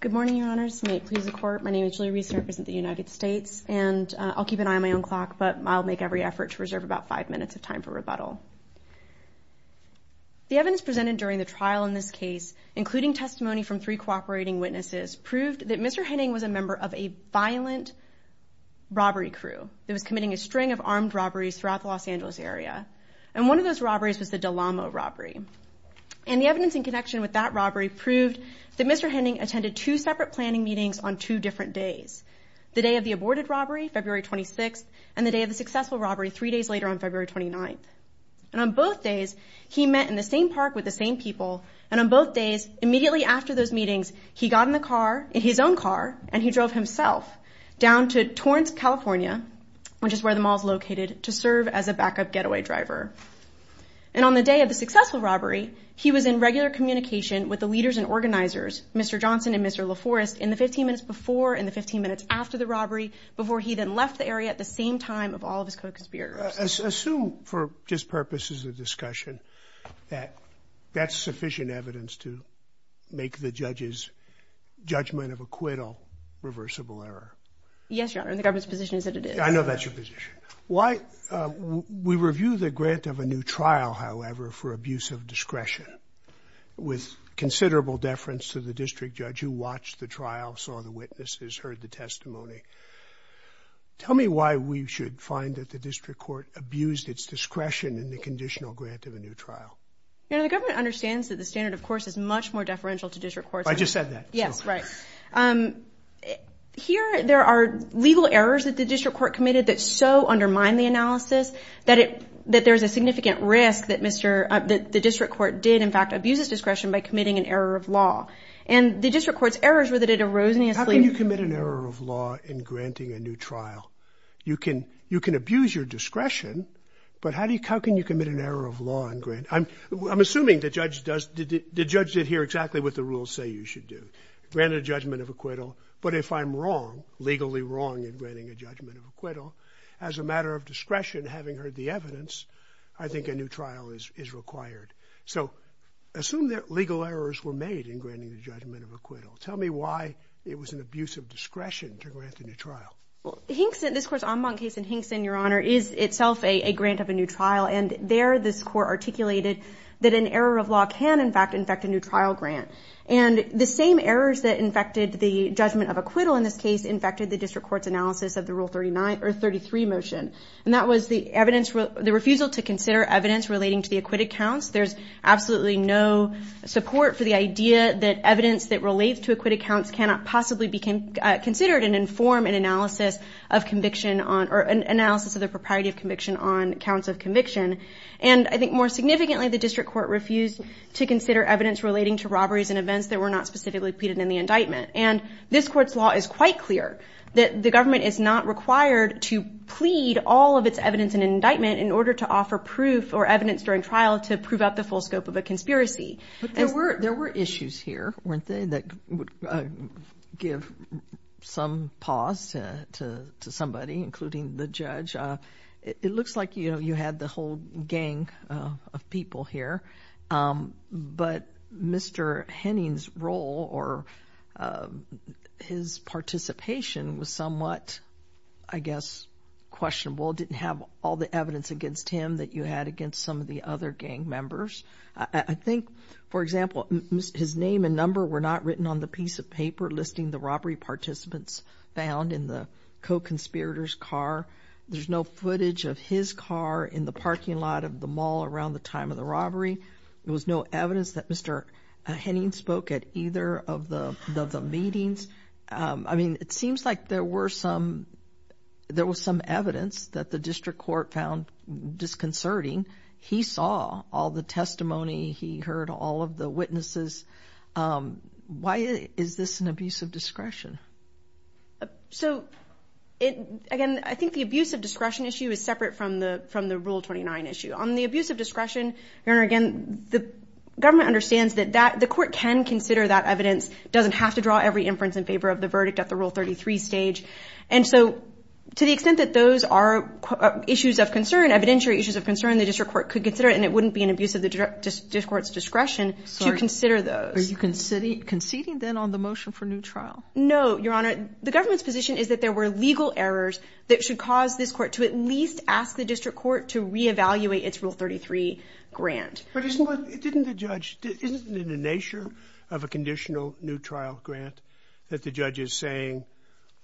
Good morning, your honors. May it please the court, my name is Julie Reese and I represent the United States and I'll keep an eye on my own clock but I'll make every effort to reserve about five minutes of time for rebuttal. The evidence presented during the trial in this case, including testimony from three cooperating witnesses, proved that Mr. Henning was a member of a violent robbery crew that was committing a string of armed robberies throughout the Los Angeles area. And one of those robberies was the Delamo robbery. And the evidence in connection with that robbery proved that Mr. Henning attended two separate planning meetings on two different days, the day of the aborted robbery, February 26th, and the day of the successful robbery, three days later on February 29th. And on both days, he met in the same park with the same people. And on both days, immediately after those meetings, he got in the car, in his own car, and he drove himself down to Torrance, California, which is where the mall is located, to serve as a backup getaway driver. And on the day of the successful robbery, he was in regular communication with the leaders and organizers, Mr. Johnson and Mr. LaForest, in the 15 minutes before and the 15 minutes after the robbery, before he then left the area at the same time of all of his co-conspirators. Assume, for just purposes of discussion, that that's sufficient evidence to make the judge's judgment of acquittal reversible error. Yes, Your Honor, and the government's position is that it is. I know that's your position. Why, we review the grant of a new trial, however, for abuse of discretion, with considerable deference to the district judge who watched the trial, saw the witnesses, heard the testimony. Tell me why we should find that the district court abused its discretion in the conditional grant of a new trial. Your Honor, the government understands that the standard, of course, is much more deferential to district courts. I just said that. Yes, right. Here, there are legal errors that the district court committed that so undermine the analysis that there's a significant risk that the district court did, in fact, abuse its discretion by committing an error of law. And the district court's errors were that it erosionously... How can you commit an error of law in granting a new trial? You can abuse your discretion, but how can you commit an error of law in granting... I'm assuming the judge did hear exactly what the rules say you should do, granted a judgment of acquittal. But if I'm wrong, legally wrong in granting a judgment of acquittal, as a matter of discretion, having heard the evidence, I think a new trial is required. So assume that legal errors were made in granting the judgment of acquittal. Tell me why it was an abuse of discretion to grant a new trial. Well, Hinkson, this course, Ambon case in Hinkson, Your Honor, is itself a grant of a new trial. And there, this court articulated that an error of law can, in fact, infect a new trial grant. And the same errors that infected the judgment of acquittal in this case infected the district court's analysis of the Rule 39, or 33 motion. And that was the evidence, the refusal to consider evidence relating to the acquitted counts. There's absolutely no support for the idea that evidence that relates to acquitted counts cannot possibly be considered and inform an analysis of conviction on, or an analysis of the propriety of conviction on counts of conviction. And I think more significantly, the district court refused to consider evidence relating to robberies and events that were not specifically pleaded in the indictment. And this court's law is quite clear that the government is not required to plead all of its evidence in an indictment in order to offer proof or evidence during trial to prove out the full scope of a conspiracy. There were issues here, weren't there, that would give some pause to somebody, including the judge. It looks like, you know, you had the whole gang of people here. But Mr. Henning's role or his participation was somewhat, I guess, questionable. It didn't have all the evidence against him that you had against some of the other gang members. I think, for example, his name and number were not written on the piece of paper listing the robbery participants found in the co-conspirator's car. There's no footage of his car in the parking lot of the mall around the time of the robbery. There was no evidence that Mr. Henning spoke at either of the meetings. I mean, it seems like there was some evidence that the district court found disconcerting. He saw all the testimony. He heard all of the witnesses. Why is this an abuse of discretion? So, again, I think the abuse of discretion issue is separate from the Rule 29 issue. On the abuse of discretion, Your Honor, again, the government understands that the court can consider that evidence. It doesn't have to draw every inference in favor of the verdict at the Rule 33 stage. And so, to the extent that those are issues of concern, evidentiary issues of concern, the district court could consider it and it wouldn't be an abuse of discretion to consider those. Are you conceding then on the motion for new trial? No, Your Honor. The government's position is that there were legal errors that should cause this court to at least ask the district court to re-evaluate its Rule 33 grant. But isn't it in the nature of a conditional new trial grant that the judge is saying,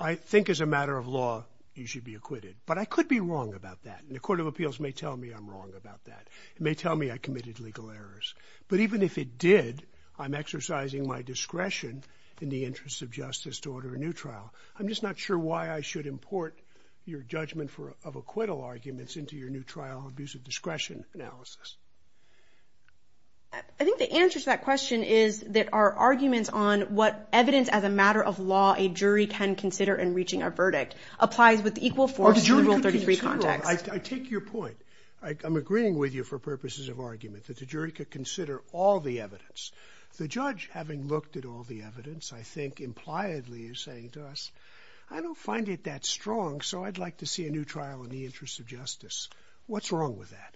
I think as a matter of law, you should be acquitted? But I could be wrong about that. And the court of appeals may tell me I'm wrong about that. It may tell me I committed legal errors. But even if it did, I'm exercising my discretion in the interest of justice to order a new trial. I'm just not sure why I should import your judgment of acquittal arguments into your new trial abuse of discretion analysis. I think the answer to that question is that our arguments on what evidence as a matter of law a jury can consider in reaching a verdict applies with equal force to the Rule 33 context. I take your point. I'm agreeing with you for purposes of argument that the jury could consider all the evidence. The judge, having looked at all the evidence, I think impliedly is saying to us, I don't find it that strong, so I'd like to see a new trial in the interest of justice. What's wrong with that?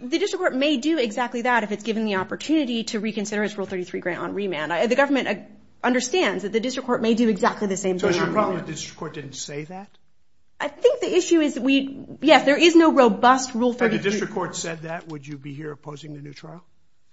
The district court may do exactly that if it's given the opportunity to reconsider its Rule 33 grant on remand. The government understands that the district court may do exactly the same thing on remand. So it's your problem that the district court didn't say that? I think the issue is, yes, there is no robust Rule 33. If the district court said that, would you be here opposing the new trial?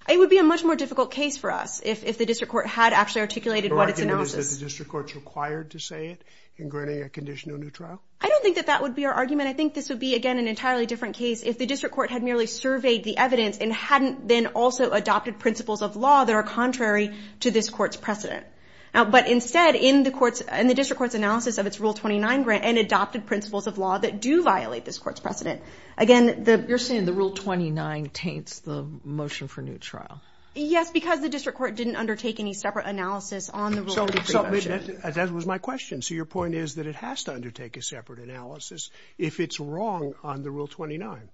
It would be a much more difficult case for us if the district court had actually articulated what its analysis. Do you reckon that the district court is required to say it in granting a condition to a new trial? I don't think that that would be our argument. I think this would be, again, an entirely different case if the district court had merely surveyed the evidence and hadn't then also adopted principles of law that are contrary to this court's precedent. But instead, in the district court's analysis of its Rule 29 grant and adopted principles of law that do violate this court's precedent, again, the... You're saying the Rule 29 taints the motion for a new trial? Yes, because the district court didn't undertake any separate analysis on the Rule 33 motion. That was my question. So your point is that it has to undertake a separate analysis if it's wrong on the Rule 29?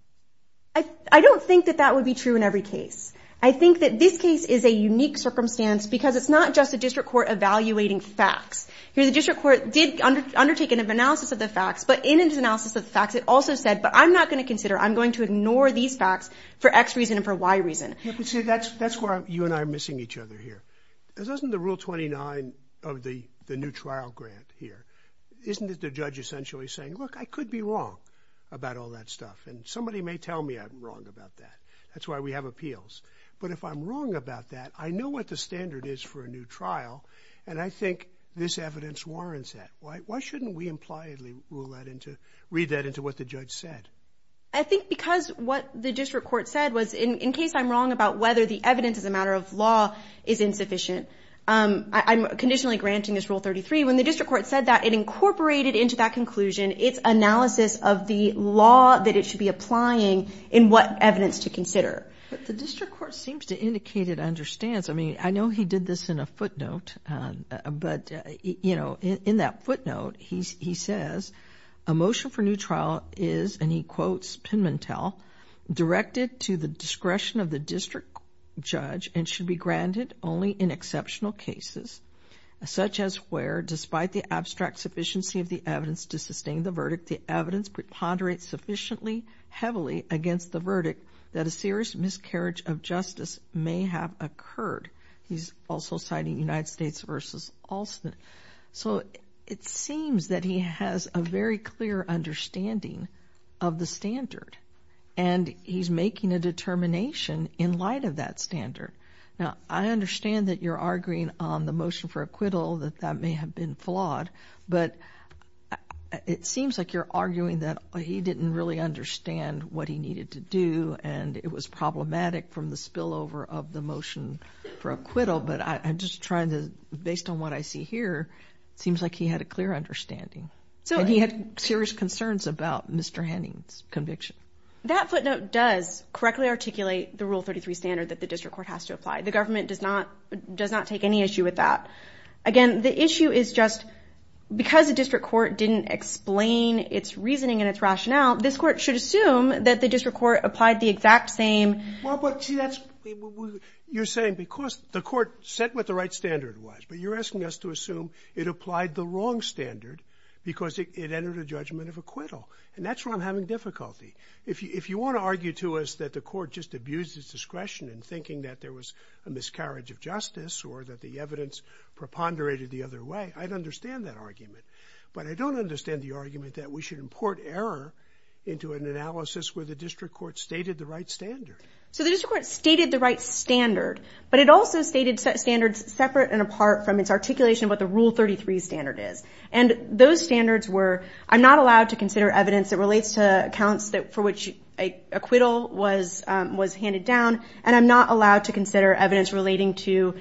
I don't think that that would be true in every case. I think that this case is a unique circumstance because it's not just a district court evaluating facts. Here, the district court did undertake an analysis of the facts, but in its analysis of the facts, it also said, but I'm not going to consider, I'm going to ignore these facts for X reason and for Y reason. That's where you and I are missing each other here. This isn't the Rule 29 of the new trial grant here. Isn't it the judge essentially saying, look, I could be wrong about all that stuff and somebody may tell me I'm wrong about that. That's why we have appeals. But if I'm wrong about what the standard is for a new trial, and I think this evidence warrants that, why shouldn't we impliedly read that into what the judge said? I think because what the district court said was, in case I'm wrong about whether the evidence as a matter of law is insufficient, I'm conditionally granting this Rule 33. When the district court said that, it incorporated into that conclusion its analysis of the law that it should be applying in what evidence to consider. But the district court seems to indicate it understands. I mean, I know he did this in a footnote, but, you know, in that footnote, he says, a motion for new trial is, and he quotes Pimentel, directed to the discretion of the district judge and should be granted only in exceptional cases, such as where, despite the abstract sufficiency of the evidence to sustain the verdict, the evidence preponderates sufficiently heavily against the verdict that a serious miscarriage of justice may have occurred. He's also citing United States v. Alston. So it seems that he has a very clear understanding of the standard, and he's making a determination in light of that standard. Now, I understand that you're arguing on the motion for acquittal that that may have been flawed, but it seems like you're arguing that he didn't really understand what he needed to do, and it was problematic from the spillover of the motion for acquittal. But I'm just trying to, based on what I see here, it seems like he had a clear understanding. And he had serious concerns about Mr. Henning's conviction. That footnote does correctly articulate the Rule 33 standard that the district court has to apply. The government does not take any issue with that. Again, the issue is just, because the district court didn't explain its reasoning and its rationale, this court should assume that the district court applied the exact same... Well, but see, you're saying because the court set what the right standard was, but you're asking us to assume it applied the wrong standard because it entered a judgment of acquittal. And that's where I'm having difficulty. If you want to argue to us that the court just abused its discretion in thinking that there was a miscarriage of justice, or that the evidence preponderated the other way, I'd understand that argument. But I don't understand the argument that we should import error into an analysis where the district court stated the right standard. So the district court stated the right standard, but it also stated standards separate and apart from its articulation of what the Rule 33 standard is. And those standards were, I'm not allowed to consider evidence that relates to accounts that for which acquittal was handed down, and I'm not allowed to consider evidence relating to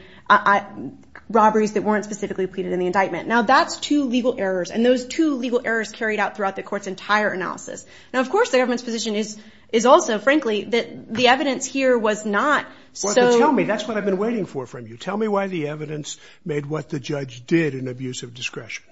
robberies that weren't specifically pleaded in the indictment. Now, that's two legal errors, and those two legal errors carried out throughout the court's entire analysis. Now, of course, the government's position is also, frankly, that the evidence here was not so... Well, tell me, that's what I've been waiting for from you. Tell me why the evidence made what the judge did an abuse of discretion.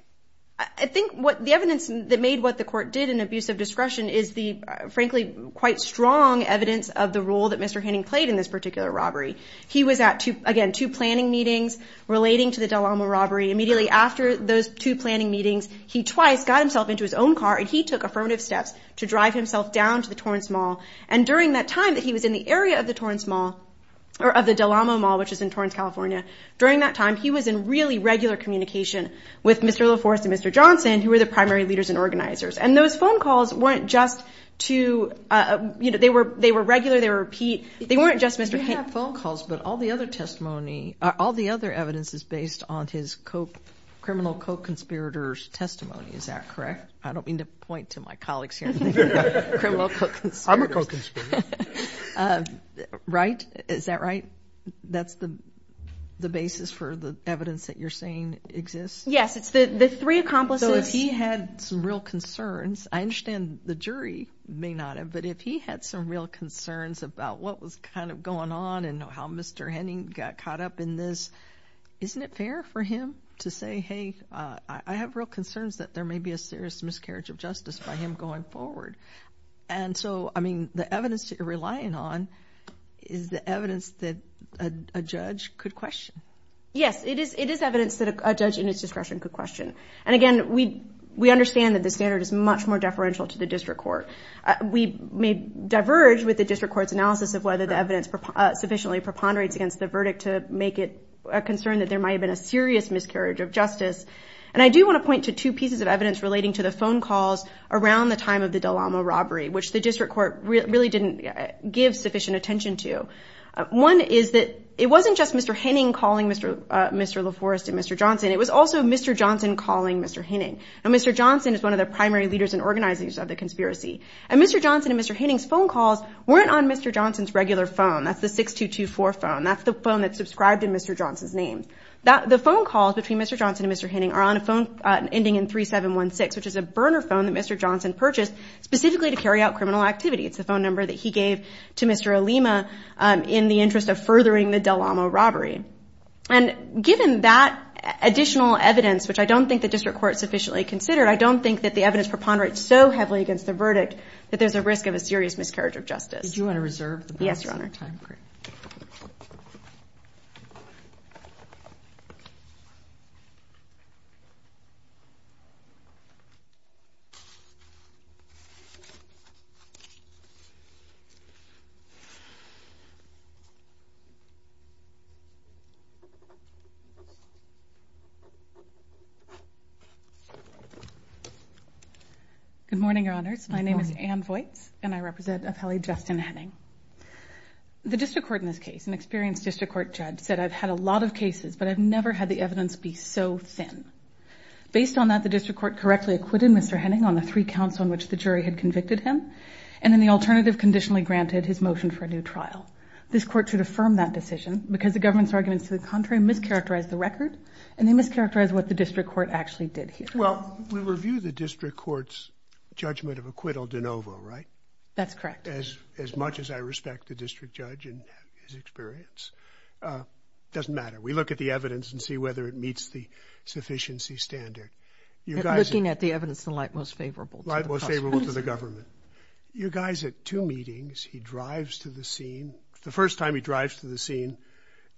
I think what the evidence that made what the court did an abuse of discretion is the, frankly, quite strong evidence of the role that Mr. Hanning played in this particular robbery. He was at, again, two planning meetings relating to the Del Amo robbery. Immediately after those two planning meetings, he twice got himself into his own car, and he took affirmative steps to drive himself down to the Torrance Mall. And during that time that he was in the area of the Torrance Mall, or of the Del Amo Mall, which is in Torrance, California, during that time, he was in really regular communication with Mr. LaForce and Mr. Johnson, who were the primary leaders and organizers. And those phone calls weren't just to... They were regular, they were repeat. They weren't just, Mr. Hanning... You have phone calls, but all the other testimony, all the other evidence is based on his criminal co-conspirators testimony. Is that correct? I don't mean to point to my colleagues here. Criminal co-conspirators. I'm a co-conspirator. Right? Is that right? That's the basis for the evidence that you're saying exists? Yes. It's the three accomplices... So if he had some real concerns, I understand the jury may not have, but if he had some real concerns about what was kind of going on and how Mr. Hanning got caught up in this, isn't it fair for him to say, hey, I have real concerns that there may be a serious miscarriage of justice by him going forward. And so, I mean, the evidence that you're relying on is the evidence that a judge could question. Yes, it is evidence that a judge in his discretion could question. And again, we understand that the standard is much more deferential to the district court. We may diverge with the district court's analysis of whether the evidence sufficiently preponderates against the verdict to make it a concern that there might have been a serious miscarriage of justice. And I do want to point to two pieces of evidence relating to the phone calls around the time of the Dalama robbery, which the district court really didn't give sufficient attention to. One is that it wasn't just Mr. Hanning calling Mr. LaForest and Mr. Johnson. It was also Mr. Johnson calling Mr. Hanning. And Mr. Johnson is one of the primary leaders and organizers of the conspiracy. And Mr. Johnson and Mr. Hanning's phone calls weren't on Mr. Johnson's regular phone. That's the 6224 phone. That's the phone that's subscribed in Mr. Johnson's name. The phone calls between Mr. Johnson and Mr. Hanning are on a phone ending in 3716, which is a burner phone that Mr. Johnson purchased specifically to carry out criminal activity. It's the phone number that he gave to Mr. Olima in the interest of furthering the Dalama robbery. And given that additional evidence, which I don't think the district court considered, I don't think that the evidence preponderates so heavily against the verdict that there's a risk of a serious miscarriage of justice. Do you want to reserve the time? Great. Good morning, Your Honors. My name is Ann Voights and I represent Appellee Justin Henning. The district court in this case, an experienced district court judge, said I've had a lot of cases, but I've never had the evidence be so thin. Based on that, the district court correctly acquitted Mr. Henning on the three counts on which the jury had convicted him. And then the alternative conditionally granted his motion for a new trial. This court should affirm that decision because the government's arguments to the contrary mischaracterized the record and they mischaracterized what the district court actually did here. Well, we review the district court's judgment of acquittal de novo, right? That's correct. As much as I respect the district judge and his experience, doesn't matter. We look at the evidence and see whether it meets the sufficiency standard. Looking at the evidence in light most favorable. Light most favorable to the government. You guys at two meetings, he drives to the scene. The first time he drives to the scene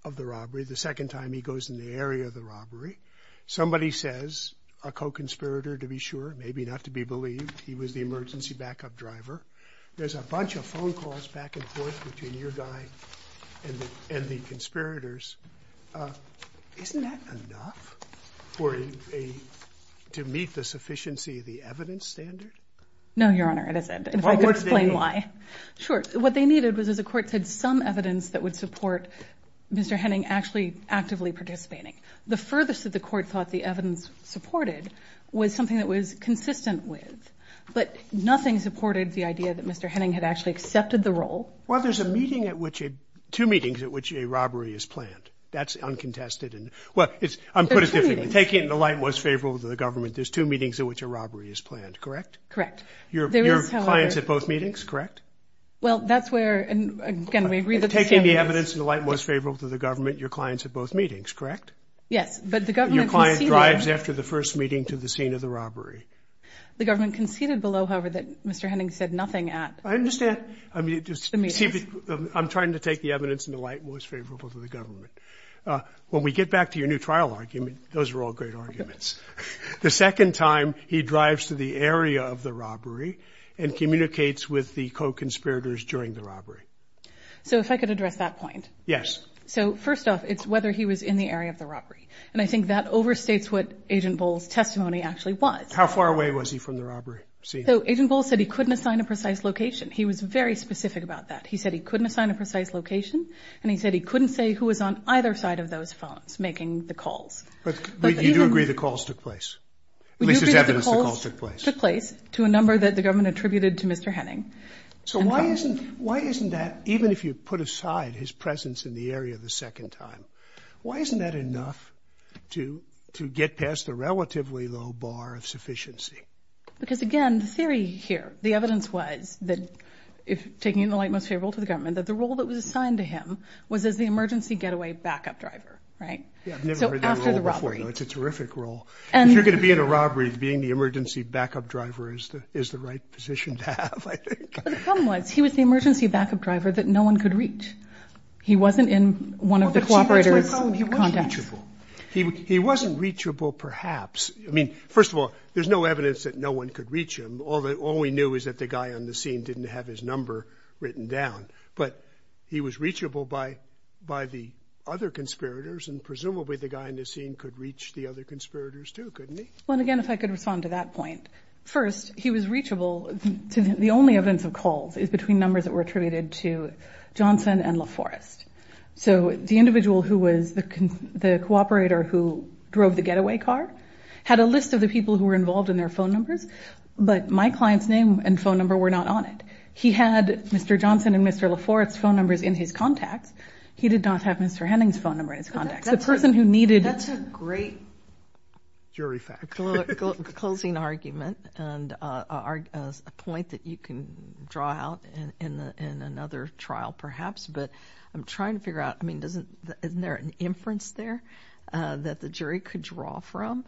of the robbery. The second time he goes in the area of the robbery. Somebody says a co-conspirator to be sure, maybe not to be believed. He was the emergency backup driver. There's a bunch of phone calls back and forth between your guy and the conspirators. Isn't that enough to meet the sufficiency of the evidence standard? No, Your Honor, it isn't. If I could explain why. Sure. What they needed was, as the court said, some evidence that would support Mr. Henning actually actively participating. The furthest that the court thought the evidence supported was something that was consistent with, but nothing supported the idea that Mr. Henning had actually accepted the role. Well, there's two meetings at which a robbery is planned. That's uncontested. I'm going to put it differently. Taking it in the light most favorable to the government, there's two meetings in which a robbery is planned, correct? Correct. Your client's at both meetings, correct? Well, that's where, again, we agree that... Taking the evidence in the light most favorable to the government, your client's at both meetings, correct? Yes, but the government conceded... Your client drives after the first meeting to the scene of the robbery. The government conceded below, however, that Mr. Henning said nothing at... I understand. I'm trying to take the evidence in the light most favorable to the government. When we get back to your new trial argument, those were all great arguments. The second time, he drives to the area of the robbery and communicates with the co-conspirators during the robbery. So, if I could address that point. Yes. So, first off, it's whether he was in the area of the robbery. And I think that overstates what Agent Bowles' testimony actually was. How far away was he from the robbery scene? So, Agent Bowles said he couldn't assign a precise location. He was very specific about that. He said he couldn't assign a precise location and he said he couldn't say who was on either side of those phones making the calls. But you do agree the calls took place? At least there's evidence the calls took place. Took place to a number that the government attributed to Mr. Henning. So, why isn't that, even if you put aside his presence in the area the second time, why isn't that enough to get past the relatively low bar of sufficiency? Because, again, the theory here, the evidence was that, taking it in the light most favorable to the government, that the role that was assigned to him was as the emergency getaway backup driver, right? Yeah, I've never heard that role before. It's a terrific role. If you're going to be in a robbery, being the emergency backup driver is the right position to have, I think. But the problem was, he was the emergency backup driver that no one could reach. He wasn't in one of the cooperator's contacts. Well, that's my problem. He wasn't reachable. He wasn't reachable, perhaps. I mean, first of all, there's no evidence that no one could reach him. All we knew is that the guy on the scene didn't have his number written down. But he was reachable by the other conspirators and presumably the guy on the scene could reach the other conspirators too, couldn't he? Well, again, if I could respond to that point. First, he was reachable. The only evidence of calls is between numbers that were attributed to Johnson and LaForest. So the individual who was the cooperator who drove the getaway car had a list of the people who were involved in their phone numbers, but my client's name and phone number were not on it. He had Mr. Johnson and Mr. LaForest's phone numbers in his contacts. He did not have Mr. Henning's phone number in his contacts. The person who needed... That's a great jury fact. Closing argument and a point that you can draw out in another trial, perhaps. But I'm trying to figure out, I mean, isn't there an inference there that the jury could draw from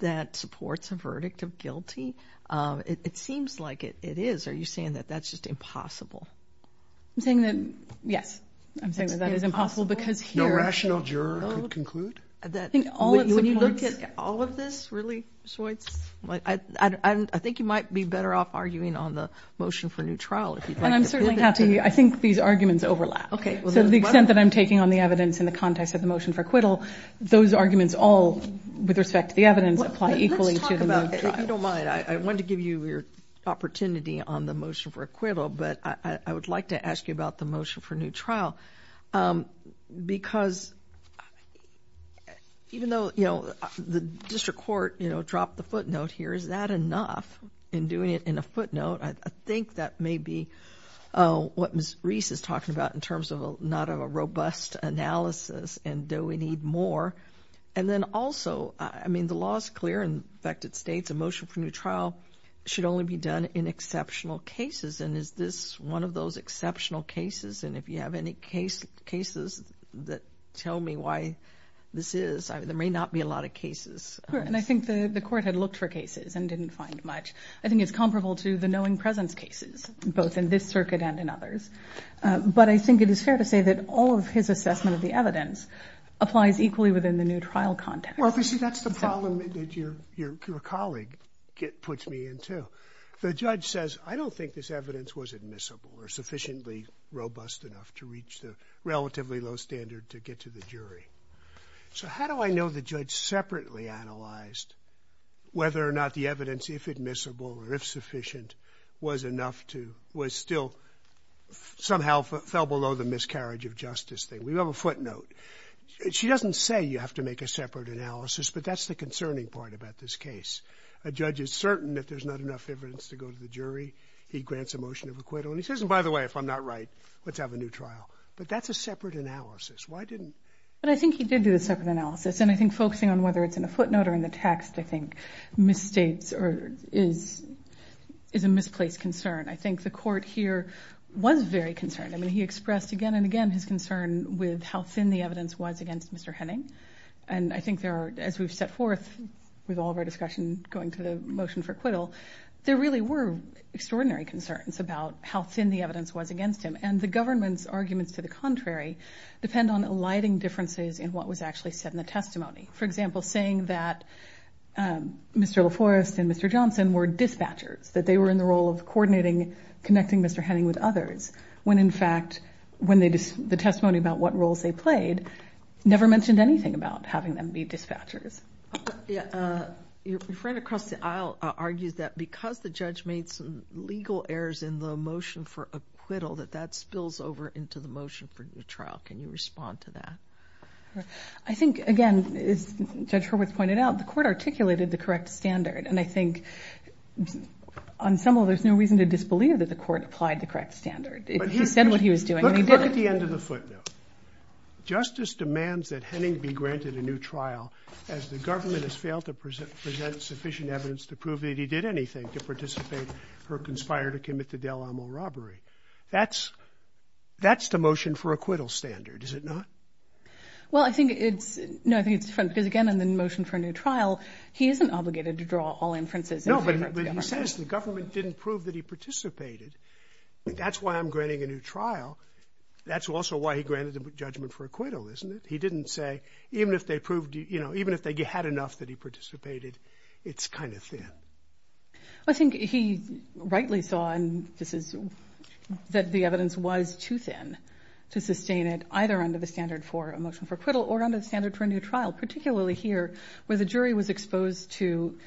that supports a verdict of guilty? It seems like it is. Are you saying that that's just impossible? I'm saying that, yes, I'm saying that that is impossible because here... No rational juror could conclude? When you look at all of this, really, Schultz, I think you might be better off arguing on the motion for new trial. And I'm certainly happy. I think these arguments overlap. So the extent that I'm taking on the evidence in the context of the motion for acquittal, those arguments all, with respect to the evidence, apply equally to the new trial. If you don't mind, I want to give you your opportunity on the motion for acquittal, but I would like to ask you about the motion for new trial. Because even though the district court dropped the footnote here, is that enough in doing it in a footnote? I think that may be what Ms. Reese is talking about in terms of not a robust analysis. And do we need more? And then also, I mean, the law is clear in affected states. A motion for new trial should only be done in exceptional cases. And is this one of those exceptional cases? And if you have any cases that tell me why this is, there may not be a lot of cases. Correct. And I think the court had looked for cases and didn't find much. I think it's comparable to the knowing presence cases, both in this circuit and in others. But I think it is fair to say that all of his assessment of the evidence applies equally within the new trial context. Well, you see, that's the problem that your colleague puts me into. The judge says, I don't think this evidence was admissible or sufficiently robust enough to reach the relatively low standard to get to the jury. So how do I know the judge separately analyzed whether or not the evidence, if admissible or if sufficient, was enough to was still somehow fell below the miscarriage of justice thing? We have a footnote. She doesn't say you have to make a separate analysis, but that's the concerning part about this case. A judge is certain that there's not enough evidence to go to the jury. He grants a motion of acquittal. He says, and by the way, if I'm not right, let's have a new trial. But that's a separate analysis. Why didn't? But I think he did do a separate analysis. And I think focusing on whether it's in a footnote or in the text, I think, misstates or is a misplaced concern. I think the court here was very concerned. I mean, he expressed again and again his concern with how thin the evidence was against Mr. Henning. And I think there are, as we've set forth with all of our discussion going to the motion for acquittal, there really were extraordinary concerns about how thin the evidence was against him. And the government's arguments to the contrary depend on alighting differences in what was actually said in the testimony. For example, saying that Mr. LaForest and Mr. Johnson were dispatchers, that they were in the role of coordinating, connecting Mr. Henning with others. When in fact, the testimony about what roles they played never mentioned anything about having them be dispatchers. Yeah. Your friend across the aisle argues that because the judge made some legal errors in the motion for acquittal, that that spills over into the motion for new trial. Can you respond to that? I think, again, as Judge Hurwitz pointed out, the court articulated the correct standard. And I think on some level, there's no reason to disbelieve that the court applied the correct standard. He said what he was doing and he did it. Look at the end of the footnote. Justice demands that Henning be granted a new trial as the government has failed to present sufficient evidence to prove that he did anything to participate, or conspire to commit the Del Amo robbery. That's the motion for acquittal standard, is it not? Well, I think it's, no, I think it's different. Because again, in the motion for a new trial, he isn't obligated to draw all inferences. No, but he says the government didn't prove that he participated. That's why I'm granting a new trial. That's also why he granted the judgment for acquittal, isn't it? He didn't say, even if they proved, you know, even if they had enough that he participated, it's kind of thin. I think he rightly saw, and this is, that the evidence was too thin to sustain it, either under the standard for a motion for acquittal or under the standard for a new trial. Particularly here, where the jury was exposed to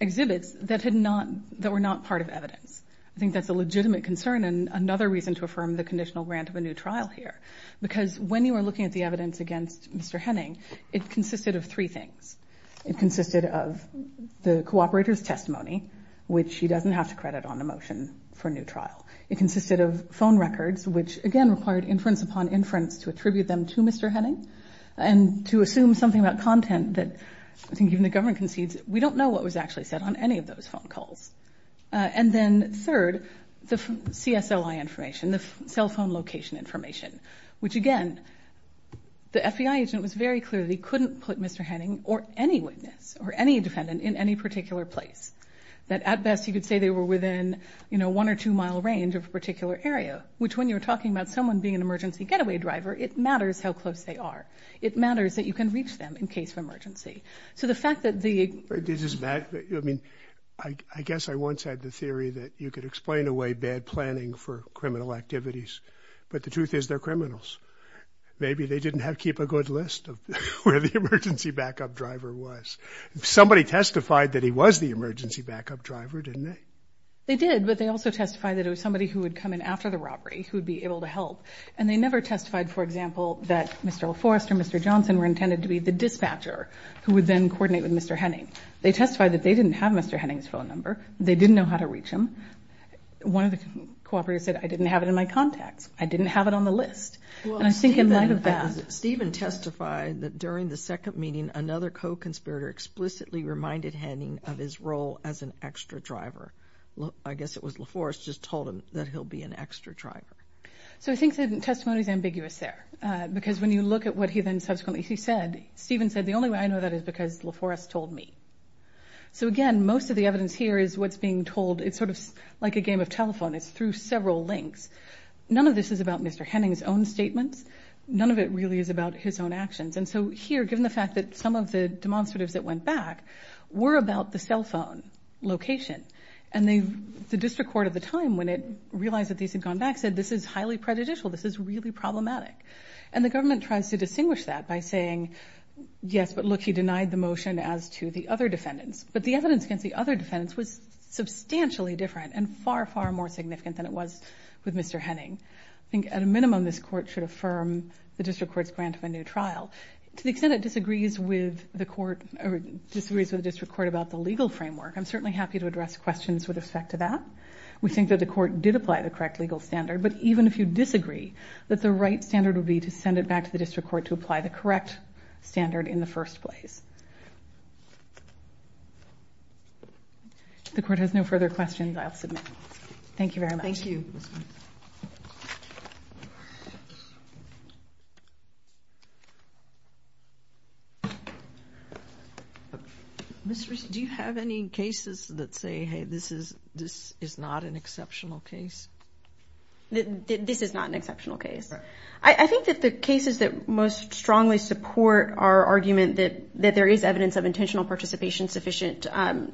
exhibits that had not, that were not part of evidence. I think that's a legitimate concern and another reason to affirm the conditional grant of a new trial here. Because when you are looking at the evidence against Mr. Henning, it consisted of three things. It consisted of the cooperator's testimony, which he doesn't have to credit on the motion for a new trial. It consisted of phone records, which again, required inference upon inference to attribute them to Mr. Henning. And to assume something about content that I think even the government concedes, we don't know what was actually said on any of those phone calls. And then third, the CSLI information, the cell phone location information, which again, the FBI agent was very clear that he couldn't put Mr. Henning or any witness or any defendant in any particular place. That at best, you could say they were within, you know, one or two mile range of a particular area, which when you're talking about someone being an emergency getaway driver, it matters how close they are. It matters that you can reach them in case of emergency. So the fact that the... I mean, I guess I once had the theory that you could explain away bad planning for criminal activities, but the truth is they're criminals. Maybe they didn't keep a good list of where the emergency backup driver was. Somebody testified that he was the emergency backup driver, didn't they? They did, but they also testified that it was somebody who would come in after the robbery, who would be able to help. And they never testified, for example, that Mr. Forrest or Mr. Johnson were intended to be the dispatcher who would then coordinate with Mr. Henning. They testified that they didn't have Mr. Henning's phone number. They didn't know how to reach him. One of the cooperators said, I didn't have it in my contacts. I didn't have it on the list. And I think in light of that... Stephen testified that during the second meeting, another co-conspirator explicitly reminded Henning of his role as an extra driver. I guess it was LaForrest just told him that he'll be an extra driver. So I think the testimony is ambiguous there, because when you look at what he then subsequently said, Stephen said, the only way I know that is because LaForrest told me. So again, most of the evidence here is what's being told. It's sort of like a game of telephone. It's through several links. None of this is about Mr. Henning's own statements. None of it really is about his own actions. And so here, given the fact that some of the demonstratives that went back were about the cell phone location, and the district court at the time, when it realized that these had gone back, said this is highly prejudicial. This is really problematic. And the government tries to distinguish that by saying, yes, but look, he denied the motion as to the other defendants. But the evidence against the other defendants was substantially different and far, far more significant than it was with Mr. Henning. I think at a minimum, this court should affirm the district court's grant of a new trial. To the extent it disagrees with the court or disagrees with the district court about the legal framework, I'm certainly happy to address questions with respect to that. We think that the court did apply the correct legal standard. But even if you disagree, that the right standard would be to send it back to the district court to apply the correct standard in the first place. The court has no further questions. I'll submit. Thank you very much. Thank you. Ms. Rich, do you have any cases that say, hey, this is not an exceptional case? That this is not an exceptional case. I think that the cases that most strongly support our argument that there is evidence of intentional participation sufficient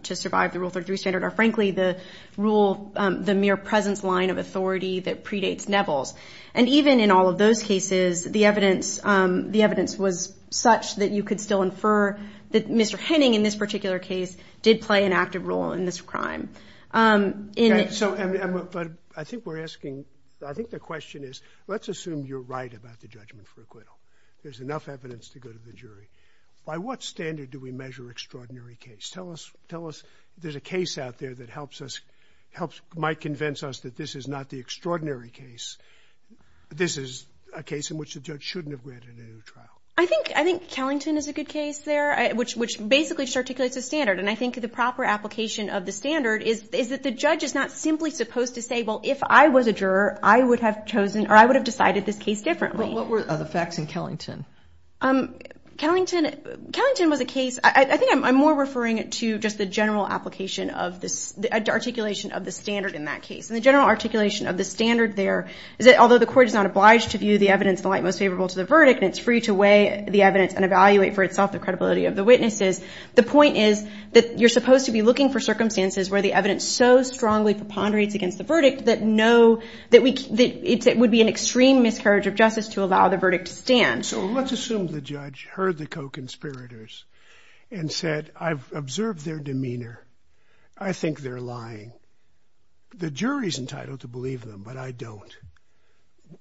to survive the Rule 33 standard are, frankly, the rule, the mere presence line of authority that predates Neville's. And even in all of those cases, the evidence was such that you could still infer that Mr. Henning, in this particular case, did play an active role in this crime. And so, but I think we're asking, I think the question is, let's assume you're right about the judgment for acquittal. There's enough evidence to go to the jury. By what standard do we measure extraordinary case? Tell us. Tell us. There's a case out there that helps us, helps, might convince us that this is not the extraordinary case. This is a case in which the judge shouldn't have granted a new trial. I think, I think Kellington is a good case there, which basically articulates a standard. And I think the proper application of the standard is, is that the judge is not simply supposed to say, well, if I was a juror, I would have chosen, or I would have decided this case differently. What were the facts in Kellington? Kellington, Kellington was a case, I think I'm more referring to just the general application of this, the articulation of the standard in that case. And the general articulation of the standard there is that although the court is not obliged to view the evidence in the light most favorable to the verdict, and it's free to weigh the evidence and evaluate for itself the credibility of the witnesses. The point is that you're supposed to be looking for circumstances where the evidence so strongly preponderates against the verdict that no, that we, that it would be an extreme miscarriage of justice to allow the verdict to stand. So let's assume the judge heard the co-conspirators and said, I've observed their demeanor. I think they're lying. The jury's entitled to believe them, but I don't.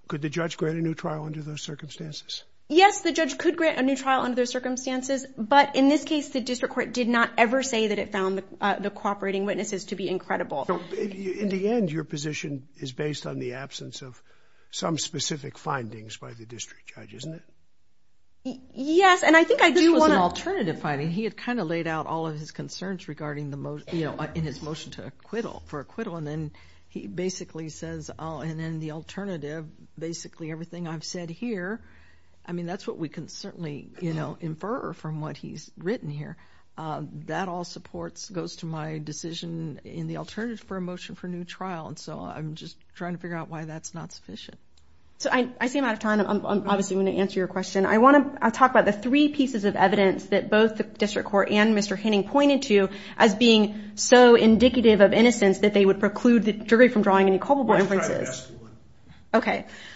Could the judge grant a new trial under those circumstances? Yes, the judge could grant a new trial under those circumstances. But in this case, the district court did not ever say that it found the cooperating witnesses to be incredible. In the end, your position is based on the absence of some specific findings by the district judge, isn't it? Yes. And I think I do want an alternative finding. He had kind of laid out all of his concerns regarding the most, you know, in his motion to acquittal for acquittal. And then he basically says, oh, and then the alternative, basically everything I've said here, I mean, that's what we can certainly, you know, infer from what he's written here. That all supports, goes to my decision in the alternative for a motion for a new trial. And so I'm just trying to figure out why that's not sufficient. So I see I'm out of time. I'm obviously going to answer your question. I want to talk about the three pieces of evidence that both the district court and Mr. Henning pointed to as being so indicative of innocence that they would preclude the jury from drawing any culpable inferences.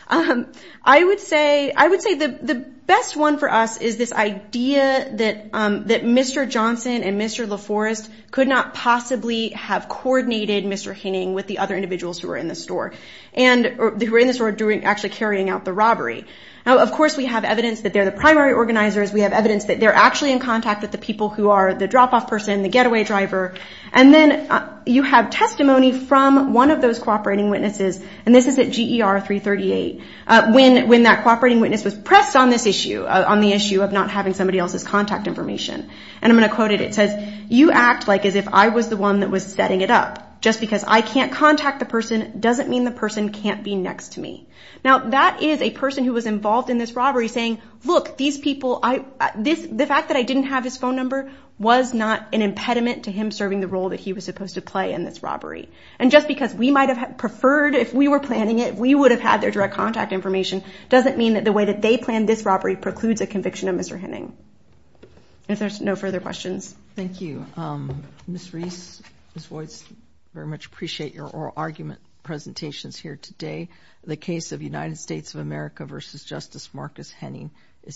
I would say the best one for us is this idea that Mr. Johnson and Mr. LaForest could not possibly have coordinated Mr. Henning with the other individuals who were in the store actually carrying out the robbery. Now, of course, we have evidence that they're the primary organizers. We have evidence that they're actually in contact with the people who are the drop-off person, the getaway driver. And then you have testimony from one of those cooperating witnesses, and this is at GER 338, when that cooperating witness was pressed on this issue, on the issue of not having somebody else's contact information. And I'm going to quote it. It says, you act like as if I was the one that was setting it up. Just because I can't contact the person doesn't mean the person can't be next to me. Now, that is a person who was involved in this robbery saying, look, these people, the fact that I didn't have his phone number was not an impediment to him serving the role that he was supposed to play in this robbery. And just because we might have preferred, if we were planning it, we would have had their direct contact information doesn't mean that the way that they planned this robbery precludes a conviction of Mr. Henning. If there's no further questions. Thank you. Ms. Reese, Ms. Voigt, very much appreciate your oral argument presentations here today. The case of United States of America versus Justice Marcus Henning is submitted. Thank you.